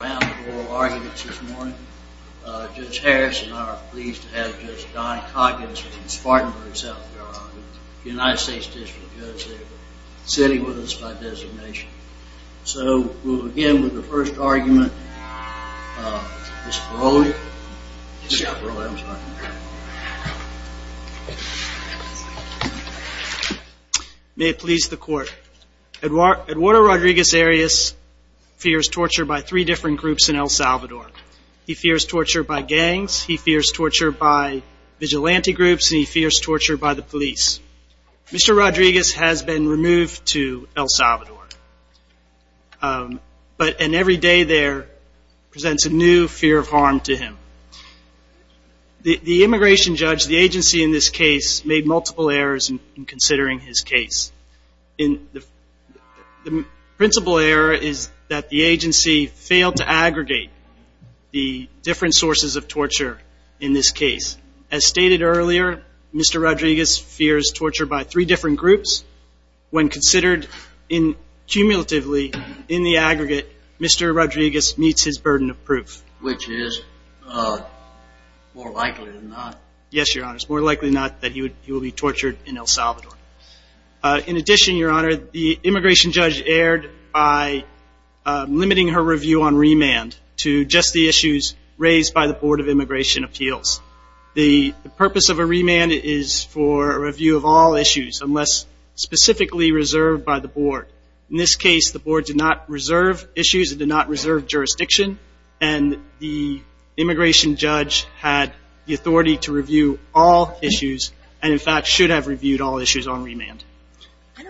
Judge Harris and I are pleased to have Judge Donny Coggins from Spartanburg, South Carolina, United States District Judge, sitting with us by designation. So, we'll begin with the first argument, Ms. Peroni. May it please the Court. Eduardo Rodriguez-Arias fears torture by three different groups in El Salvador. He fears torture by gangs, he fears torture by vigilante groups, and he fears torture by the police. Mr. Rodriguez has been removed to El Salvador, and every day there presents a new fear of harm to him. The immigration judge, the agency in this case, made multiple errors in considering his case. The principal error is that the agency failed to aggregate the different sources of torture in this case. As stated earlier, Mr. Rodriguez fears torture by three different groups. When considered cumulatively in the aggregate, Mr. Rodriguez meets his burden of proof. Which is more likely than not. Yes, Your Honor, it's more likely than not that he will be tortured in El Salvador. In addition, Your Honor, the immigration judge erred by limiting her review on remand to just the issues raised by the Board of Immigration Appeals. The purpose of a remand is for a review of all issues, unless specifically reserved by the Board. In this case, the Board did not reserve issues, it did not reserve jurisdiction, and the immigration judge had the authority to review all issues, and in fact should have reviewed all issues on remand.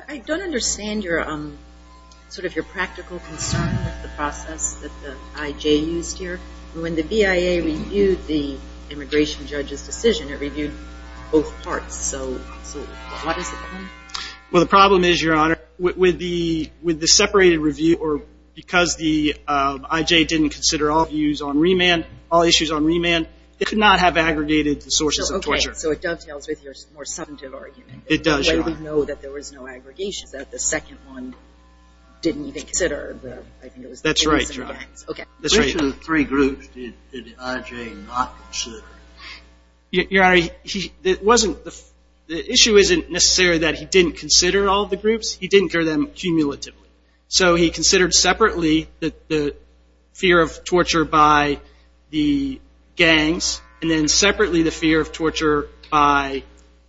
I don't understand sort of your practical concern with the process that the IJ used here. When the BIA reviewed the immigration judge's decision, it reviewed both parts, so what is the problem? Well, the problem is, Your Honor, with the separated review, or because the IJ didn't consider all issues on remand, they could not have aggregated the sources of torture. So it dovetails with your more subjective argument. It does, Your Honor. The way we know that there was no aggregation, that the second one didn't even consider. That's right, Your Honor. Okay. Which of the three groups did the IJ not consider? Your Honor, the issue isn't necessarily that he didn't consider all the groups, he didn't consider them cumulatively. So he considered separately the fear of torture by the gangs, and then separately the fear of torture by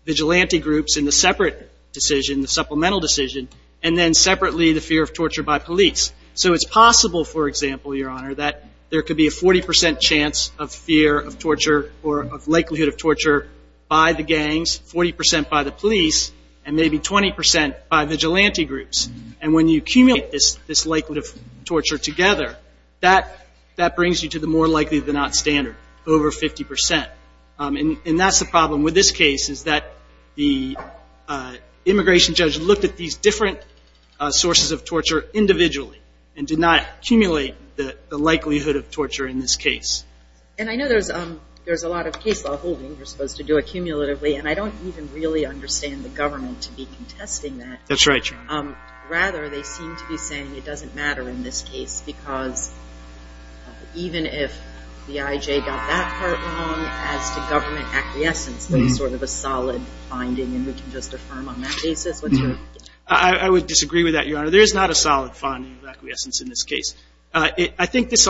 vigilante groups in the separate decision, the supplemental decision, and then separately the fear of torture by police. So it's possible, for example, Your Honor, that there could be a 40 percent chance of fear of torture or of likelihood of torture by the gangs, 40 percent by the police, and maybe 20 percent by vigilante groups. And when you accumulate this likelihood of torture together, that brings you to the more likely than not standard, over 50 percent. And that's the problem with this case is that the immigration judge looked at these different sources of torture individually and did not accumulate the likelihood of torture in this case. And I know there's a lot of case law holding you're supposed to do accumulatively, and I don't even really understand the government to be contesting that. That's right, Your Honor. Rather, they seem to be saying it doesn't matter in this case, because even if the IJ got that part wrong as to government acquiescence, there's sort of a solid finding, and we can just affirm on that basis. I would disagree with that, Your Honor. There is not a solid finding of acquiescence in this case. I think this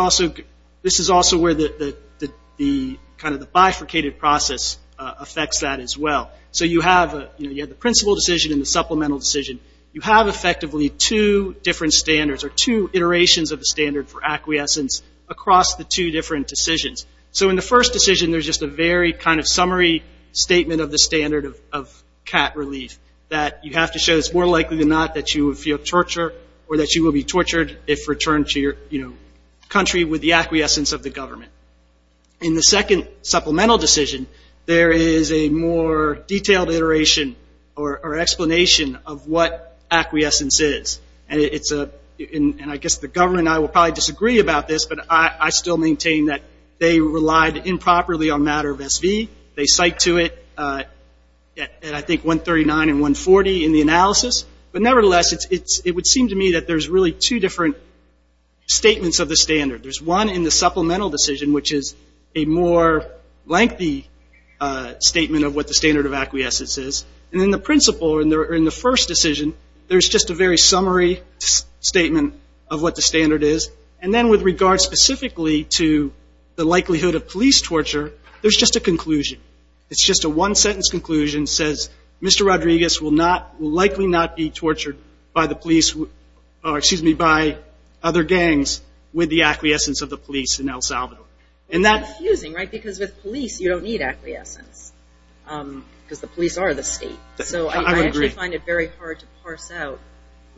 is also where kind of the bifurcated process affects that as well. So you have the principal decision and the supplemental decision. You have effectively two different standards or two iterations of the standard for acquiescence across the two different decisions. So in the first decision, there's just a very kind of summary statement of the standard of cat relief, that you have to show it's more likely than not that you will feel torture or that you will be tortured if returned to your country with the acquiescence of the government. In the second supplemental decision, there is a more detailed iteration or explanation of what acquiescence is. And I guess the government and I will probably disagree about this, but I still maintain that they relied improperly on matter of SV. They cite to it, I think, 139 and 140 in the analysis. But nevertheless, it would seem to me that there's really two different statements of the standard. There's one in the supplemental decision, which is a more lengthy statement of what the standard of acquiescence is. And in the principal or in the first decision, there's just a very summary statement of what the standard is. And then with regard specifically to the likelihood of police torture, there's just a conclusion. It's just a one-sentence conclusion that says, Mr. Rodriguez will likely not be tortured by other gangs with the acquiescence of the police in El Salvador. And that's confusing, right? Because with police, you don't need acquiescence because the police are the state. So I actually find it very hard to parse out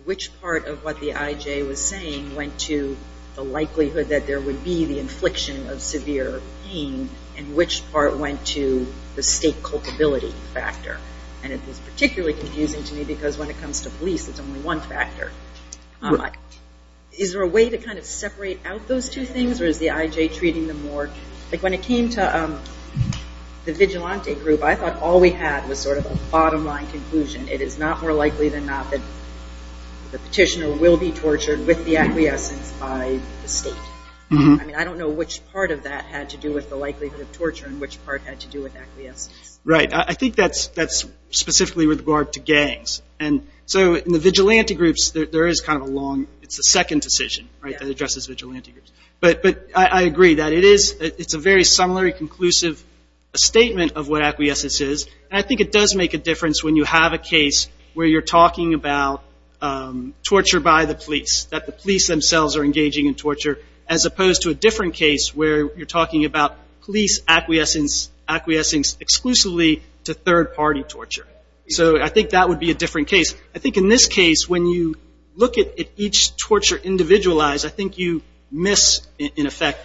which part of what the IJ was saying went to the likelihood that there would be the infliction of severe pain and which part went to the state culpability factor. And it was particularly confusing to me because when it comes to police, it's only one factor. Is there a way to kind of separate out those two things, or is the IJ treating them more? Like when it came to the vigilante group, I thought all we had was sort of a bottom-line conclusion. It is not more likely than not that the petitioner will be tortured with the acquiescence by the state. I mean, I don't know which part of that had to do with the likelihood of torture and which part had to do with acquiescence. Right. I think that's specifically with regard to gangs. And so in the vigilante groups, there is kind of a long – it's the second decision, right, that addresses vigilante groups. But I agree that it is – it's a very similar, conclusive statement of what acquiescence is. And I think it does make a difference when you have a case where you're talking about torture by the police, that the police themselves are engaging in torture, as opposed to a different case where you're talking about police acquiescence exclusively to third-party torture. So I think that would be a different case. I think in this case, when you look at each torture individualized, I think you miss, in effect,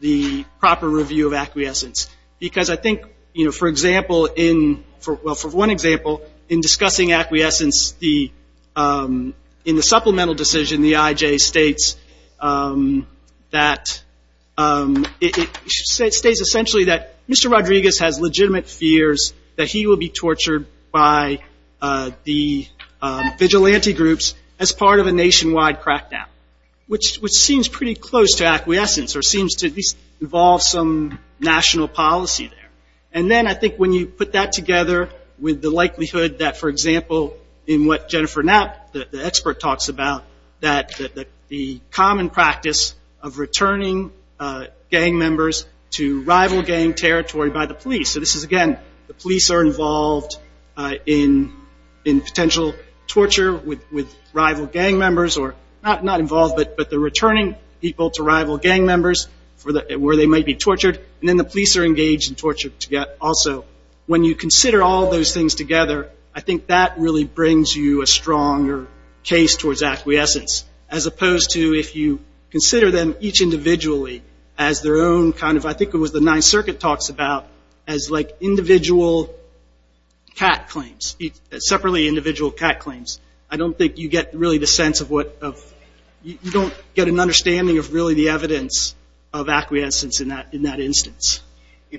the proper review of acquiescence. Because I think, you know, for example in – well, for one example, in discussing acquiescence, the – in the supplemental decision, the IJ states that – it states essentially that Mr. Rodriguez has legitimate fears that he will be tortured by the vigilante groups as part of a nationwide crackdown, which seems pretty close to acquiescence or seems to at least involve some national policy there. And then I think when you put that together with the likelihood that, for example, in what Jennifer Knapp, the expert, talks about, that the common practice of returning gang members to rival gang territory by the police – so this is, again, the police are involved in potential torture with rival gang members, or not involved, but they're returning people to rival gang members for the – where they might be tortured. And then the police are engaged in torture also. When you consider all those things together, I think that really brings you a stronger case towards acquiescence, as opposed to if you consider them each individually as their own kind of – I think it was the Ninth Circuit talks about as like individual cat claims, separately individual cat claims. I don't think you get really the sense of what – of – If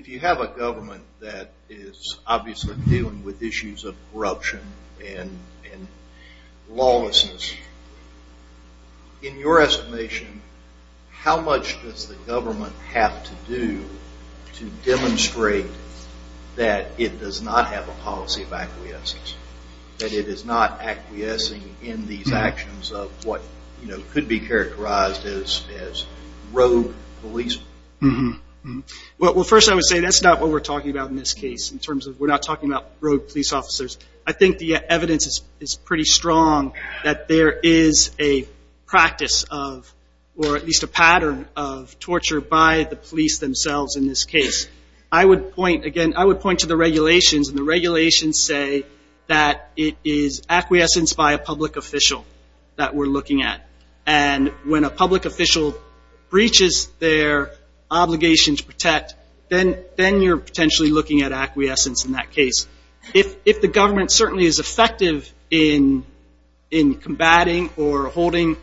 you have a government that is obviously dealing with issues of corruption and lawlessness, in your estimation, how much does the government have to do to demonstrate that it does not have a policy of acquiescence, that it is not acquiescing in these actions of what could be characterized as rogue police? Well, first I would say that's not what we're talking about in this case, in terms of we're not talking about rogue police officers. I think the evidence is pretty strong that there is a practice of, or at least a pattern of torture by the police themselves in this case. I would point – again, I would point to the regulations, and the regulations say that it is acquiescence by a public official that we're looking at. And when a public official breaches their obligation to protect, then you're potentially looking at acquiescence in that case. If the government certainly is effective in combating or holding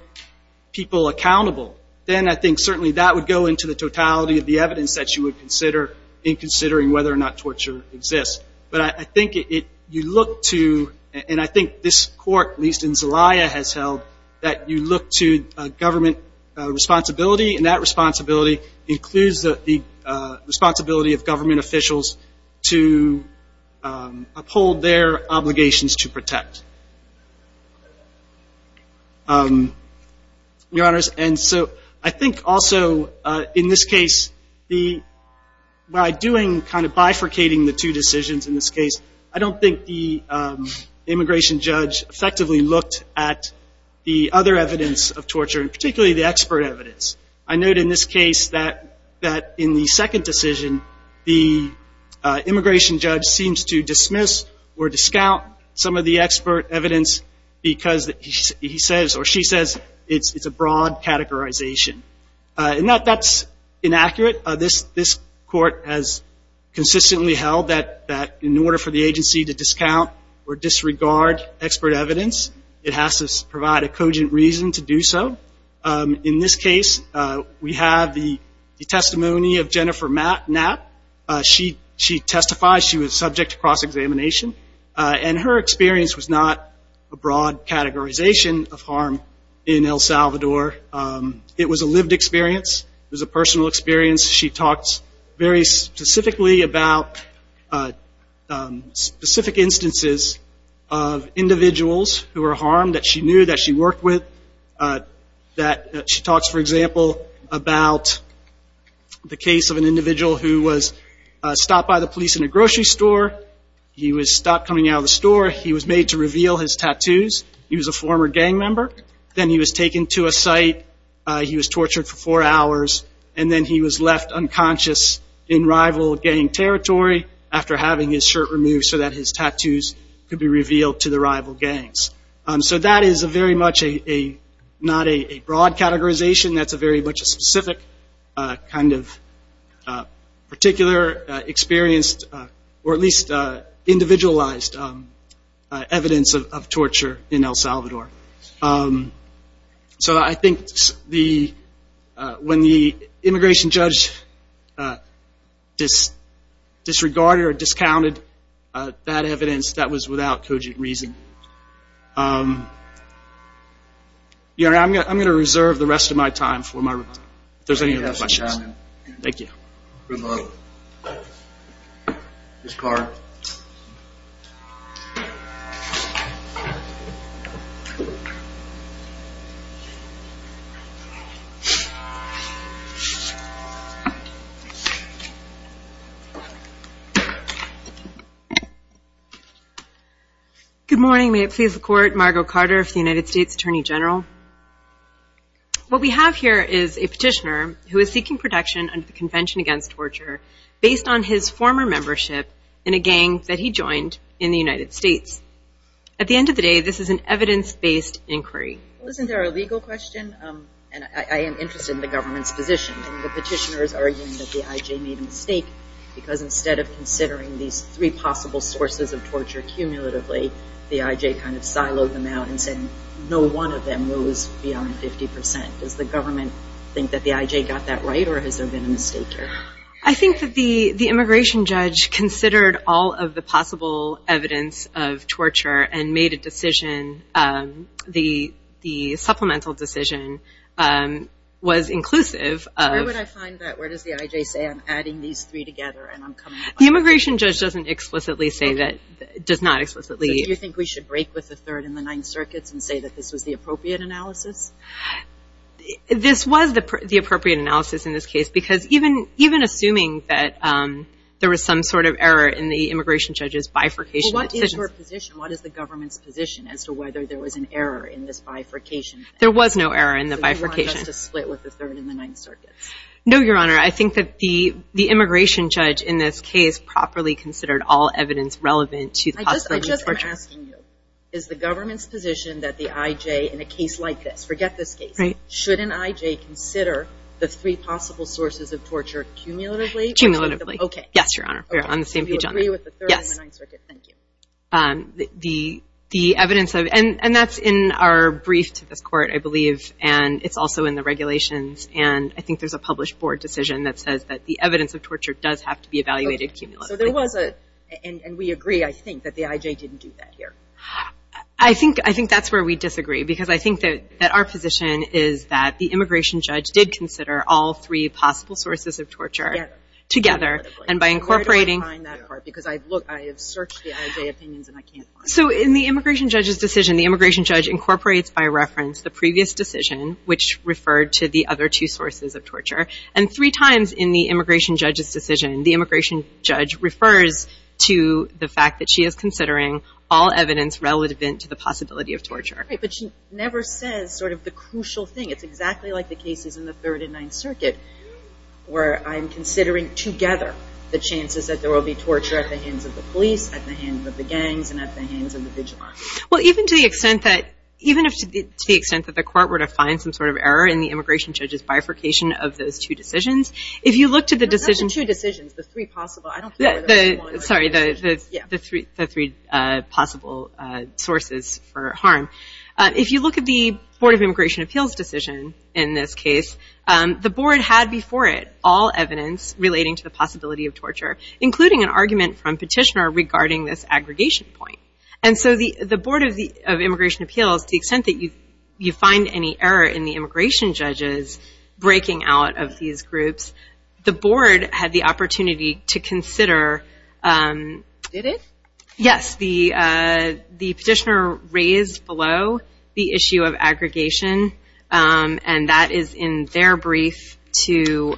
people accountable, then I think certainly that would go into the totality of the evidence that you would consider in considering whether or not torture exists. But I think you look to – and I think this court, at least in Zelaya, has held – that you look to government responsibility, and that responsibility includes the responsibility of government officials to uphold their obligations to protect. Your Honors, and so I think also in this case, by doing – kind of bifurcating the two decisions in this case, I don't think the immigration judge effectively looked at the other evidence of torture, and particularly the expert evidence. I note in this case that in the second decision, the immigration judge seems to dismiss or discount some of the expert evidence because he says or she says it's a broad categorization. And that's inaccurate. This court has consistently held that in order for the agency to discount or disregard expert evidence, it has to provide a cogent reason to do so. In this case, we have the testimony of Jennifer Knapp. She testifies she was subject to cross-examination, and her experience was not a broad categorization of harm in El Salvador. It was a lived experience. It was a personal experience. She talks very specifically about specific instances of individuals who were harmed that she knew that she worked with. She talks, for example, about the case of an individual who was stopped by the police in a grocery store. He was stopped coming out of the store. He was made to reveal his tattoos. He was a former gang member. Then he was taken to a site. He was tortured for four hours. And then he was left unconscious in rival gang territory after having his shirt removed so that his tattoos could be revealed to the rival gangs. So that is very much not a broad categorization. That's a very much a specific kind of particular experienced or at least individualized evidence of torture in El Salvador. So I think when the immigration judge disregarded or discounted that evidence, that was without cogent reason. I'm going to reserve the rest of my time if there's any other questions. Thank you. Good luck. Ms. Carter. Good morning. May it please the Court, Margo Carter of the United States Attorney General. What we have here is a petitioner who is seeking protection under the Convention Against Torture based on his former membership in a gang that he joined in the United States. At the end of the day, this is an evidence-based inquiry. Isn't there a legal question? I am interested in the government's position. The petitioner is arguing that the IJ made a mistake because instead of considering these three possible sources of torture cumulatively, the IJ kind of siloed them out and said no one of them goes beyond 50%. Does the government think that the IJ got that right or has there been a mistake here? I think that the immigration judge considered all of the possible evidence of torture and made a decision, the supplemental decision, was inclusive. Where would I find that? Where does the IJ say I'm adding these three together? The immigration judge doesn't explicitly say that, does not explicitly. Do you think we should break with the third in the Ninth Circuit and say that this was the appropriate analysis? This was the appropriate analysis in this case because even assuming that there was some sort of error in the immigration judge's bifurcation. What is your position? What is the government's position as to whether there was an error in this bifurcation? There was no error in the bifurcation. So you want us to split with the third in the Ninth Circuit? No, Your Honor. I think that the immigration judge in this case properly considered all evidence relevant to the possibility of torture. I just am asking you, is the government's position that the IJ in a case like this, forget this case, shouldn't IJ consider the three possible sources of torture cumulatively? Cumulatively. Okay. Yes, Your Honor. We're on the same page on that. Okay. So you agree with the third in the Ninth Circuit? Yes. Thank you. The evidence of, and that's in our brief to this court, I believe, and it's also in the regulations. And I think there's a published board decision that says that the evidence of torture does have to be evaluated cumulatively. Okay. So there was a, and we agree, I think, that the IJ didn't do that here. I think that's where we disagree, because I think that our position is that the immigration judge did consider all three possible sources of torture. Together. Together. And by incorporating. Where do I find that part? Because I have searched the IJ opinions and I can't find it. So in the immigration judge's decision, the immigration judge incorporates by reference the previous decision, which referred to the other two sources of torture. And three times in the immigration judge's decision, the immigration judge refers to the fact that she is considering all evidence relevant to the possibility of torture. Right. But she never says sort of the crucial thing. It's exactly like the cases in the Third and Ninth Circuit, where I'm considering together the chances that there will be torture at the hands of the police, at the hands of the gangs, and at the hands of the vigilante. Well, even to the extent that, if the court were to find some sort of error in the immigration judge's bifurcation of those two decisions, if you look to the decision. Not the two decisions. The three possible. Sorry. The three possible sources for harm. If you look at the Board of Immigration Appeals decision in this case, the board had before it all evidence relating to the possibility of torture, including an argument from petitioner regarding this aggregation point. And so the board of immigration appeals, to the extent that you find any error in the immigration judge's breaking out of these groups, the board had the opportunity to consider. Did it? Yes. The petitioner raised below the issue of aggregation, and that is in their brief to.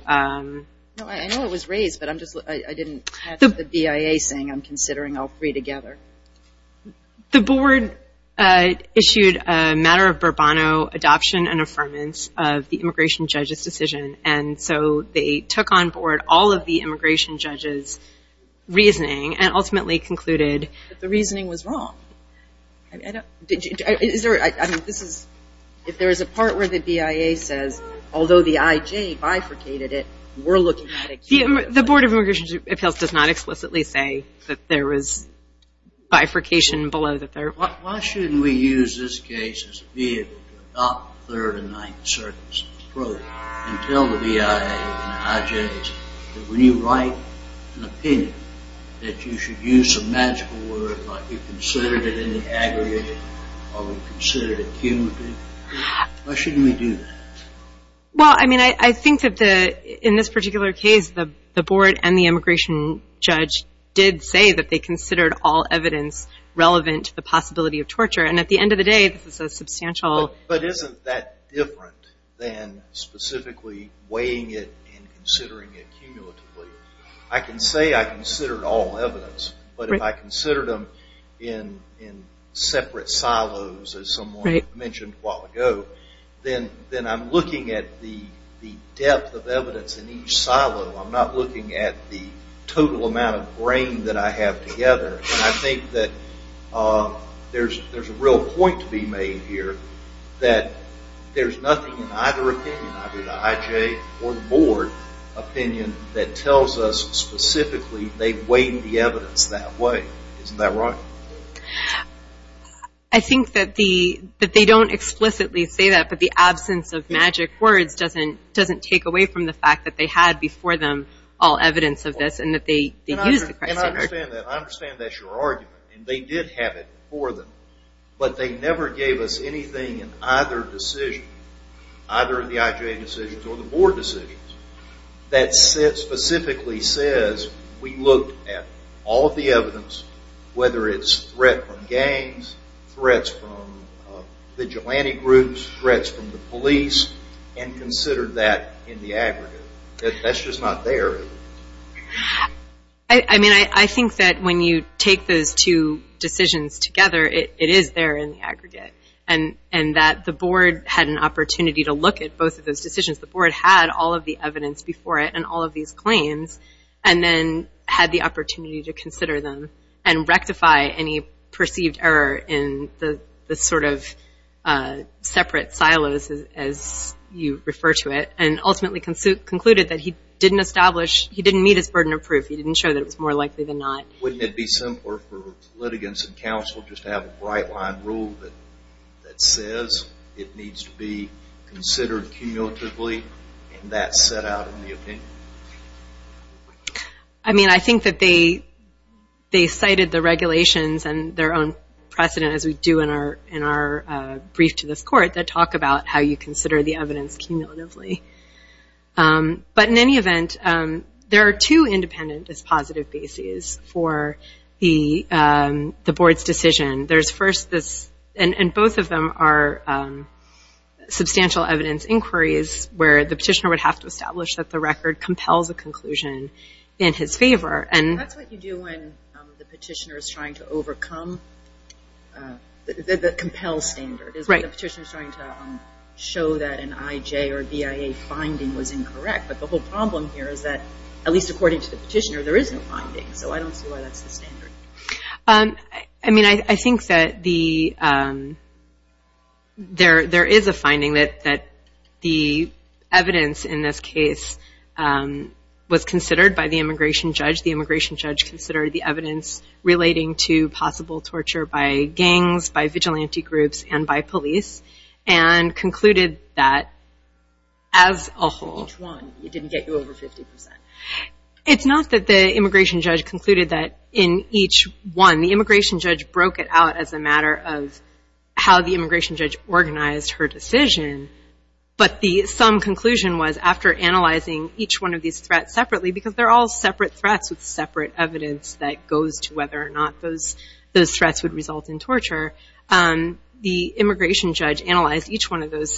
I know it was raised, but I didn't have the BIA saying I'm considering all three together. The board issued a matter of Burbano adoption and affirmance of the immigration judge's decision. And so they took on board all of the immigration judge's reasoning and ultimately concluded that the reasoning was wrong. Is there, I mean, this is, if there is a part where the BIA says, although the IJ bifurcated it, we're looking at it. The board of immigration appeals does not explicitly say that there was bifurcation below the third. Why shouldn't we use this case as a vehicle to adopt the third and ninth circuit's approach and tell the BIA and the IJs that when you write an opinion, that you should use a magical word like you considered it in the aggregated or you considered it cumulative? Why shouldn't we do that? Well, I mean, I think that in this particular case, the board and the immigration judge did say that they considered all evidence relevant to the possibility of torture. And at the end of the day, this is a substantial... But isn't that different than specifically weighing it and considering it cumulatively? I can say I considered all evidence, as someone mentioned a while ago, then I'm looking at the depth of evidence in each silo. I'm not looking at the total amount of brain that I have together. And I think that there's a real point to be made here that there's nothing in either opinion, either the IJ or the board opinion, that tells us specifically they weighed the evidence that way. Isn't that right? I think that they don't explicitly say that, but the absence of magic words doesn't take away from the fact that they had before them all evidence of this and that they used the criteria. And I understand that. I understand that's your argument. And they did have it before them. But they never gave us anything in either decision, either in the IJ decisions or the board decisions, that specifically says we looked at all of the evidence, whether it's threat from gangs, threats from vigilante groups, threats from the police, and considered that in the aggregate. That's just not there. I mean, I think that when you take those two decisions together, it is there in the aggregate, and that the board had an opportunity to look at both of those decisions. The board had all of the evidence before it and all of these claims and then had the opportunity to consider them and rectify any perceived error in the sort of separate silos, as you refer to it, and ultimately concluded that he didn't meet his burden of proof. He didn't show that it was more likely than not. Wouldn't it be simpler for litigants and counsel just to have a bright-line rule that says it needs to be considered cumulatively and that's set out in the opinion? I mean, I think that they cited the regulations and their own precedent, as we do in our brief to this court, that talk about how you consider the evidence cumulatively. But in any event, there are two independent as positive bases for the board's decision. And both of them are substantial evidence inquiries where the petitioner would have to establish that the record compels a conclusion in his favor. That's what you do when the petitioner is trying to overcome the compel standard. The petitioner is trying to show that an IJ or BIA finding was incorrect, but the whole problem here is that, at least according to the petitioner, there is no finding, so I don't see why that's the standard. I mean, I think that there is a finding that the evidence in this case was considered by the immigration judge. The immigration judge considered the evidence relating to possible torture by gangs, by vigilante groups, and by police, and concluded that, as a whole, it didn't get you over 50%. It's not that the immigration judge concluded that in each one. The immigration judge broke it out as a matter of how the immigration judge organized her decision. But the sum conclusion was, after analyzing each one of these threats separately, because they're all separate threats with separate evidence that goes to whether or not those threats would result in torture, the immigration judge analyzed each one of those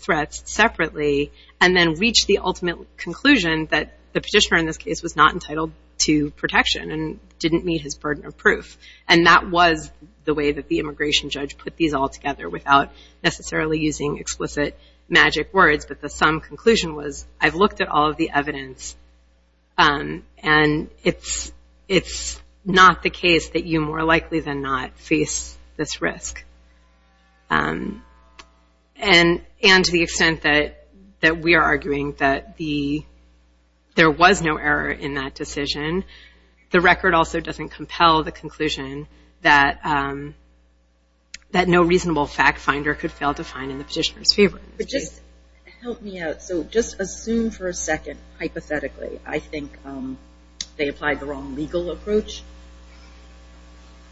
threats separately and then reached the ultimate conclusion that the petitioner in this case was not entitled to protection and didn't meet his burden of proof. And that was the way that the immigration judge put these all together without necessarily using explicit magic words. But the sum conclusion was, I've looked at all of the evidence, and it's not the case that you more likely than not face this risk. And to the extent that we are arguing that there was no error in that decision, the record also doesn't compel the conclusion that no reasonable fact finder could fail to find in the petitioner's favor. But just help me out. So just assume for a second, hypothetically, I think they applied the wrong legal approach.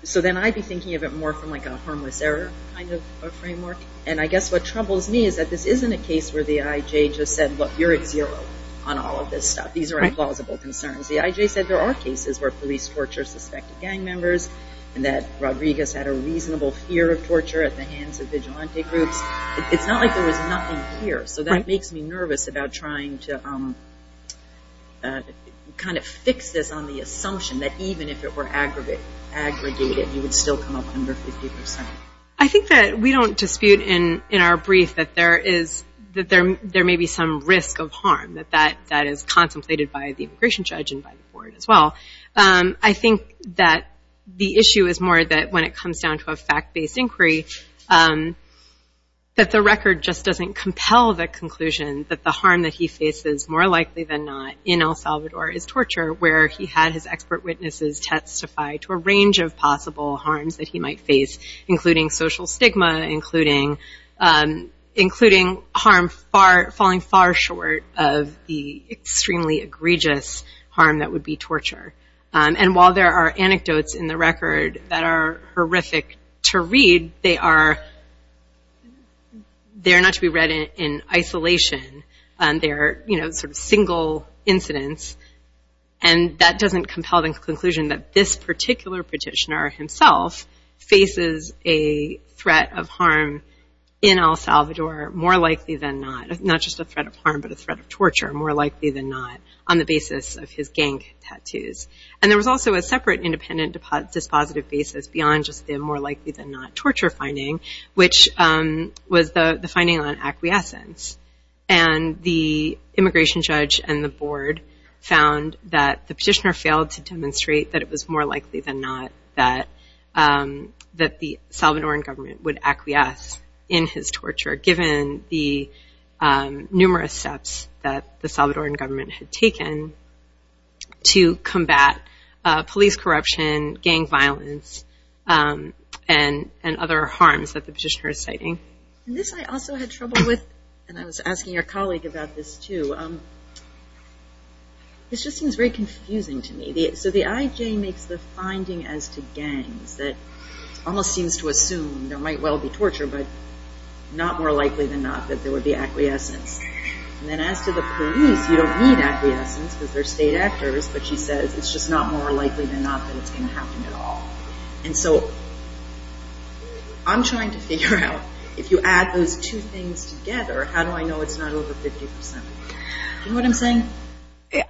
So then I'd be thinking of it more from a harmless error kind of framework. And I guess what troubles me is that this isn't a case where the IJ just said, look, you're at zero on all of this stuff. These are implausible concerns. The IJ said there are cases where police torture suspected gang members and that Rodriguez had a reasonable fear of torture at the hands of vigilante groups. It's not like there was nothing here. So that makes me nervous about trying to kind of fix this on the assumption that even if it were aggregated, you would still come up under 50%. I think that we don't dispute in our brief that there may be some risk of harm, that that is contemplated by the immigration judge and by the board as well. I think that the issue is more that when it comes down to a fact-based inquiry, that the record just doesn't compel the conclusion that the harm that he faces, more likely than not, in El Salvador is torture, where he had his expert witnesses testify to a range of possible harms that he might face, including social stigma, including harm falling far short of the extremely egregious harm that would be torture. And while there are anecdotes in the record that are horrific to read, they are not to be read in isolation. They are sort of single incidents, and that doesn't compel the conclusion that this particular petitioner himself faces a threat of harm in El Salvador more likely than not. Not just a threat of harm, but a threat of torture more likely than not on the basis of his gang tattoos. And there was also a separate independent dispositive basis beyond just the more likely than not torture finding, which was the finding on acquiescence. And the immigration judge and the board found that the petitioner failed to demonstrate that it was more likely than not that the Salvadoran government would acquiesce in his torture, given the numerous steps that the Salvadoran government had taken to combat police corruption, gang violence, and other harms that the petitioner is citing. And this I also had trouble with, and I was asking your colleague about this too. This just seems very confusing to me. So the IJ makes the finding as to gangs that almost seems to assume there might well be torture, but not more likely than not that there would be acquiescence. And then as to the police, you don't need acquiescence because they're state actors, but she says it's just not more likely than not that it's going to happen at all. And so I'm trying to figure out if you add those two things together, how do I know it's not over 50%? Do you know what I'm saying?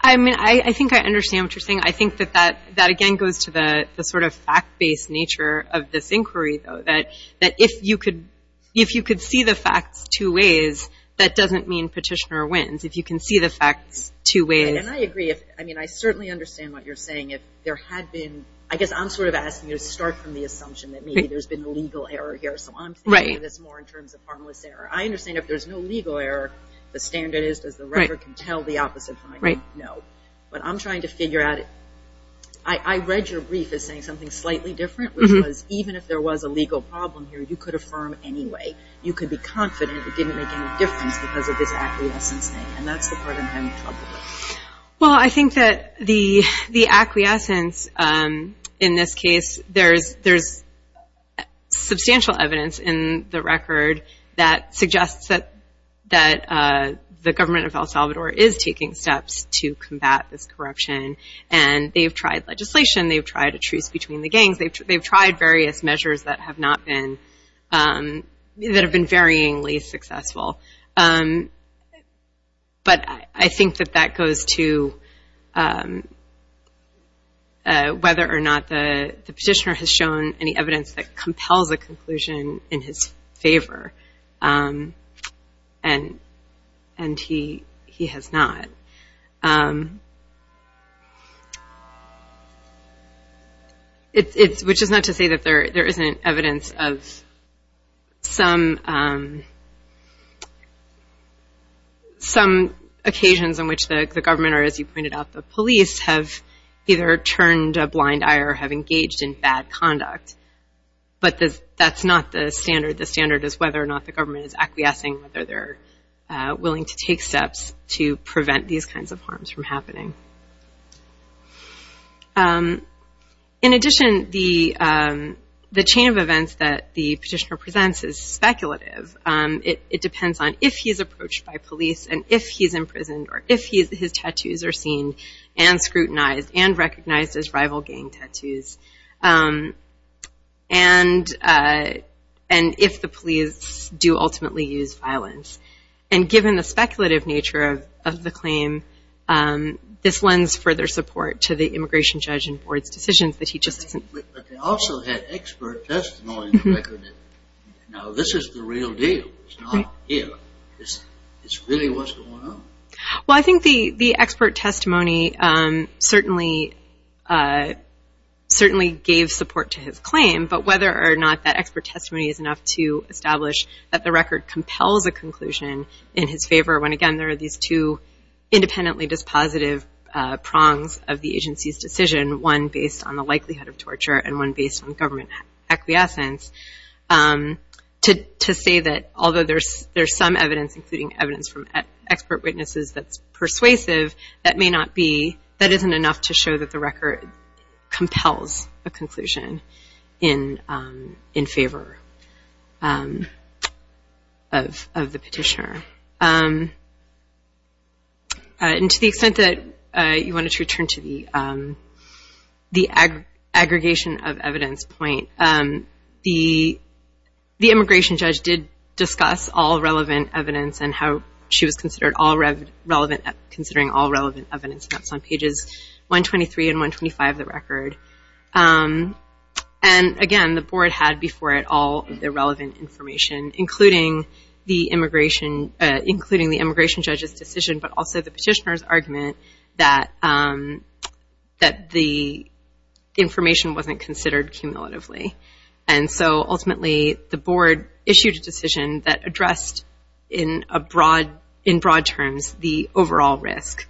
I mean, I think I understand what you're saying. I think that that again goes to the sort of fact-based nature of this inquiry, though, that if you could see the facts two ways, that doesn't mean petitioner wins. If you can see the facts two ways. And I agree. I mean, I certainly understand what you're saying. If there had been ñ I guess I'm sort of asking you to start from the assumption that maybe there's been a legal error here, so I'm thinking of this more in terms of harmless error. I understand if there's no legal error, the standard is does the record can tell the opposite finding? Right. No. But I'm trying to figure out ñ I read your brief as saying something slightly different, which was even if there was a legal problem here, you could affirm anyway. You could be confident it didn't make any difference because of this acquiescence thing, and that's the part I'm having trouble with. Well, I think that the acquiescence in this case, there's substantial evidence in the record that suggests that the government of El Salvador is taking steps to combat this corruption, and they've tried legislation. They've tried a truce between the gangs. They've tried various measures that have not been ñ that have been varyingly successful. But I think that that goes to whether or not the petitioner has shown any evidence that compels a conclusion in his favor, and he has not. Which is not to say that there isn't evidence of some occasions on which the government, or as you pointed out, the police, have either turned a blind eye or have engaged in bad conduct. But that's not the standard. The standard is whether or not the government is acquiescing, whether they're willing to take steps to prevent these kinds of harms from happening. In addition, the chain of events that the petitioner presents is speculative. It depends on if he's approached by police, and if he's imprisoned, or if his tattoos are seen and scrutinized and recognized as rival gang tattoos, and if the police do ultimately use violence. And given the speculative nature of the claim, this lends further support to the immigration judge and board's decisions that he just ñ But they also had expert testimony to record it. Now, this is the real deal. It's not here. It's really what's going on. Well, I think the expert testimony certainly gave support to his claim. But whether or not that expert testimony is enough to establish that the record compels a conclusion in his favor, when, again, there are these two independently dispositive prongs of the agency's decision, one based on the likelihood of torture and one based on government acquiescence, to say that although there's some evidence, including evidence from expert witnesses that's persuasive, that may not be ñ that isn't enough to show that the record compels a conclusion in favor of the petitioner. And to the extent that you wanted to return to the aggregation of evidence point, the immigration judge did discuss all relevant evidence and how she was considering all relevant evidence. And that's on pages 123 and 125 of the record. And, again, the board had before it all the relevant information, including the immigration judge's decision but also the petitioner's argument that the information wasn't considered cumulatively. And so, ultimately, the board issued a decision that addressed in broad terms the overall risk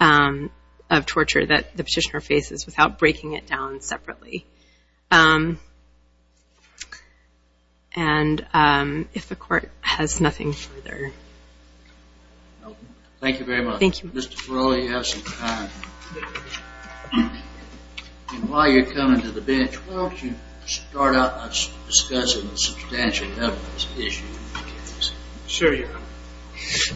of torture that the petitioner faces without breaking it down separately. And if the court has nothing further... Thank you very much. Thank you. Mr. Ferola, you have some time. And while you're coming to the bench, why don't you start out by discussing the substantial evidence issue? Sure, Your Honor.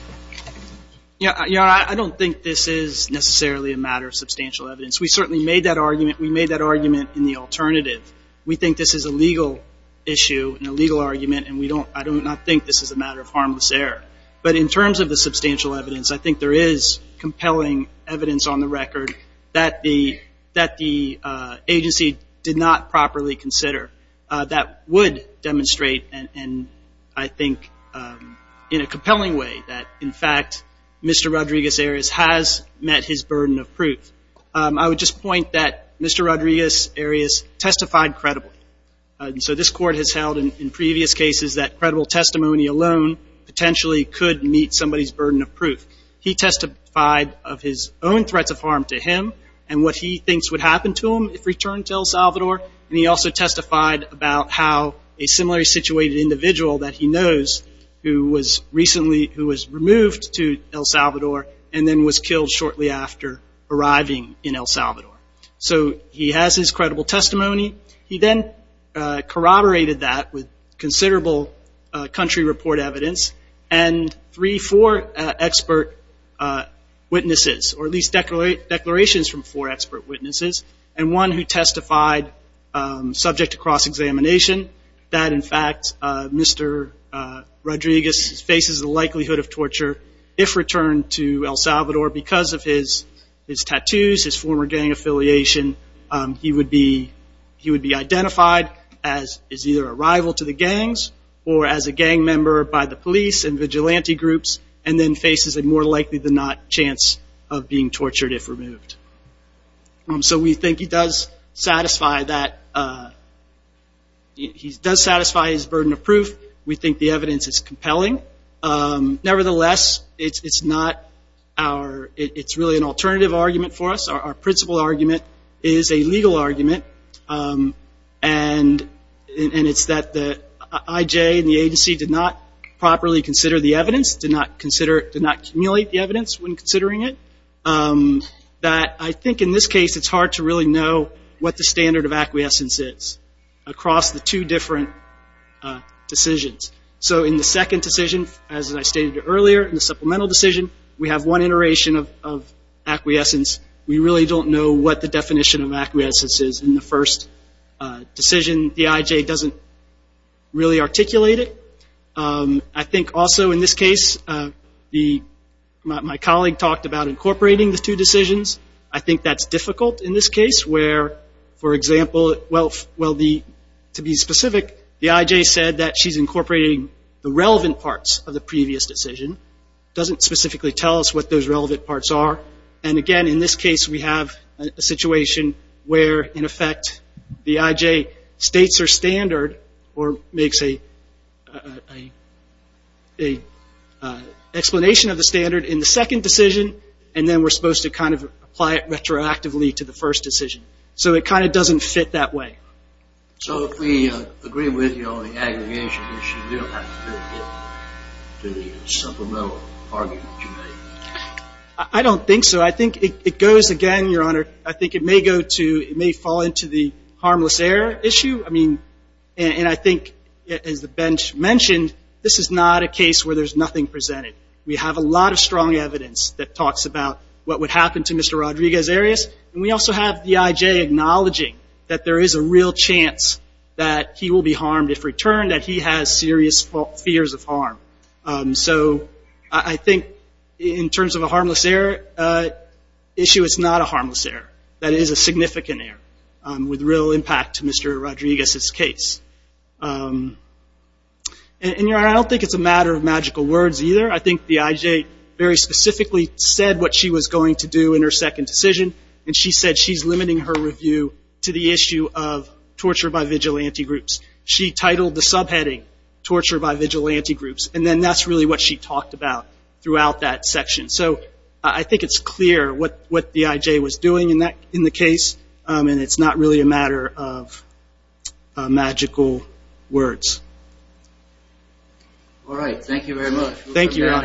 Your Honor, I don't think this is necessarily a matter of substantial evidence. We certainly made that argument. We made that argument in the alternative. We think this is a legal issue and a legal argument, and I do not think this is a matter of harmless error. But in terms of the substantial evidence, I think there is compelling evidence on the record that the agency did not properly consider that would demonstrate, and I think in a compelling way, that, in fact, Mr. Rodriguez-Arias has met his burden of proof. I would just point that Mr. Rodriguez-Arias testified credibly. So this Court has held in previous cases that credible testimony alone potentially could meet somebody's burden of proof. He testified of his own threats of harm to him and what he thinks would happen to him if returned to El Salvador, and he also testified about how a similarly situated individual that he knows who was recently removed to El Salvador and then was killed shortly after arriving in El Salvador. So he has his credible testimony. He then corroborated that with considerable country report evidence and three, four expert witnesses, or at least declarations from four expert witnesses, and one who testified, subject to cross-examination, that, in fact, Mr. Rodriguez faces the likelihood of torture if returned to El Salvador because of his tattoos, his former gang affiliation. He would be identified as either a rival to the gangs or as a gang member by the police and vigilante groups and then faces a more likely-than-not chance of being tortured if removed. So we think he does satisfy his burden of proof. We think the evidence is compelling. Nevertheless, it's really an alternative argument for us, our principal argument is a legal argument, and it's that the IJ and the agency did not properly consider the evidence, did not consider it, did not accumulate the evidence when considering it, that I think in this case it's hard to really know what the standard of acquiescence is across the two different decisions. So in the second decision, as I stated earlier, in the supplemental decision, we have one iteration of acquiescence. We really don't know what the definition of acquiescence is in the first decision. The IJ doesn't really articulate it. I think also in this case my colleague talked about incorporating the two decisions. I think that's difficult in this case where, for example, well, to be specific, the IJ said that she's incorporating the relevant parts of the previous decision, doesn't specifically tell us what those relevant parts are, and again in this case we have a situation where, in effect, the IJ states her standard or makes an explanation of the standard in the second decision, and then we're supposed to kind of apply it retroactively to the first decision. So it kind of doesn't fit that way. So if we agree with you on the aggregation issue, you don't have to really get to the supplemental argument you made. I don't think so. I think it goes again, Your Honor. I think it may go to, it may fall into the harmless error issue. I mean, and I think, as the bench mentioned, this is not a case where there's nothing presented. We have a lot of strong evidence that talks about what would happen to Mr. Rodriguez-Arias, and we also have the IJ acknowledging that there is a real chance that he will be harmed if returned, that he has serious fears of harm. So I think in terms of a harmless error issue, it's not a harmless error. That is a significant error with real impact to Mr. Rodriguez's case. And, Your Honor, I don't think it's a matter of magical words either. I think the IJ very specifically said what she was going to do in her second decision, and she said she's limiting her review to the issue of torture by vigilante groups. She titled the subheading torture by vigilante groups, and then that's really what she talked about throughout that section. So I think it's clear what the IJ was doing in the case, and it's not really a matter of magical words. All right. Thank you very much.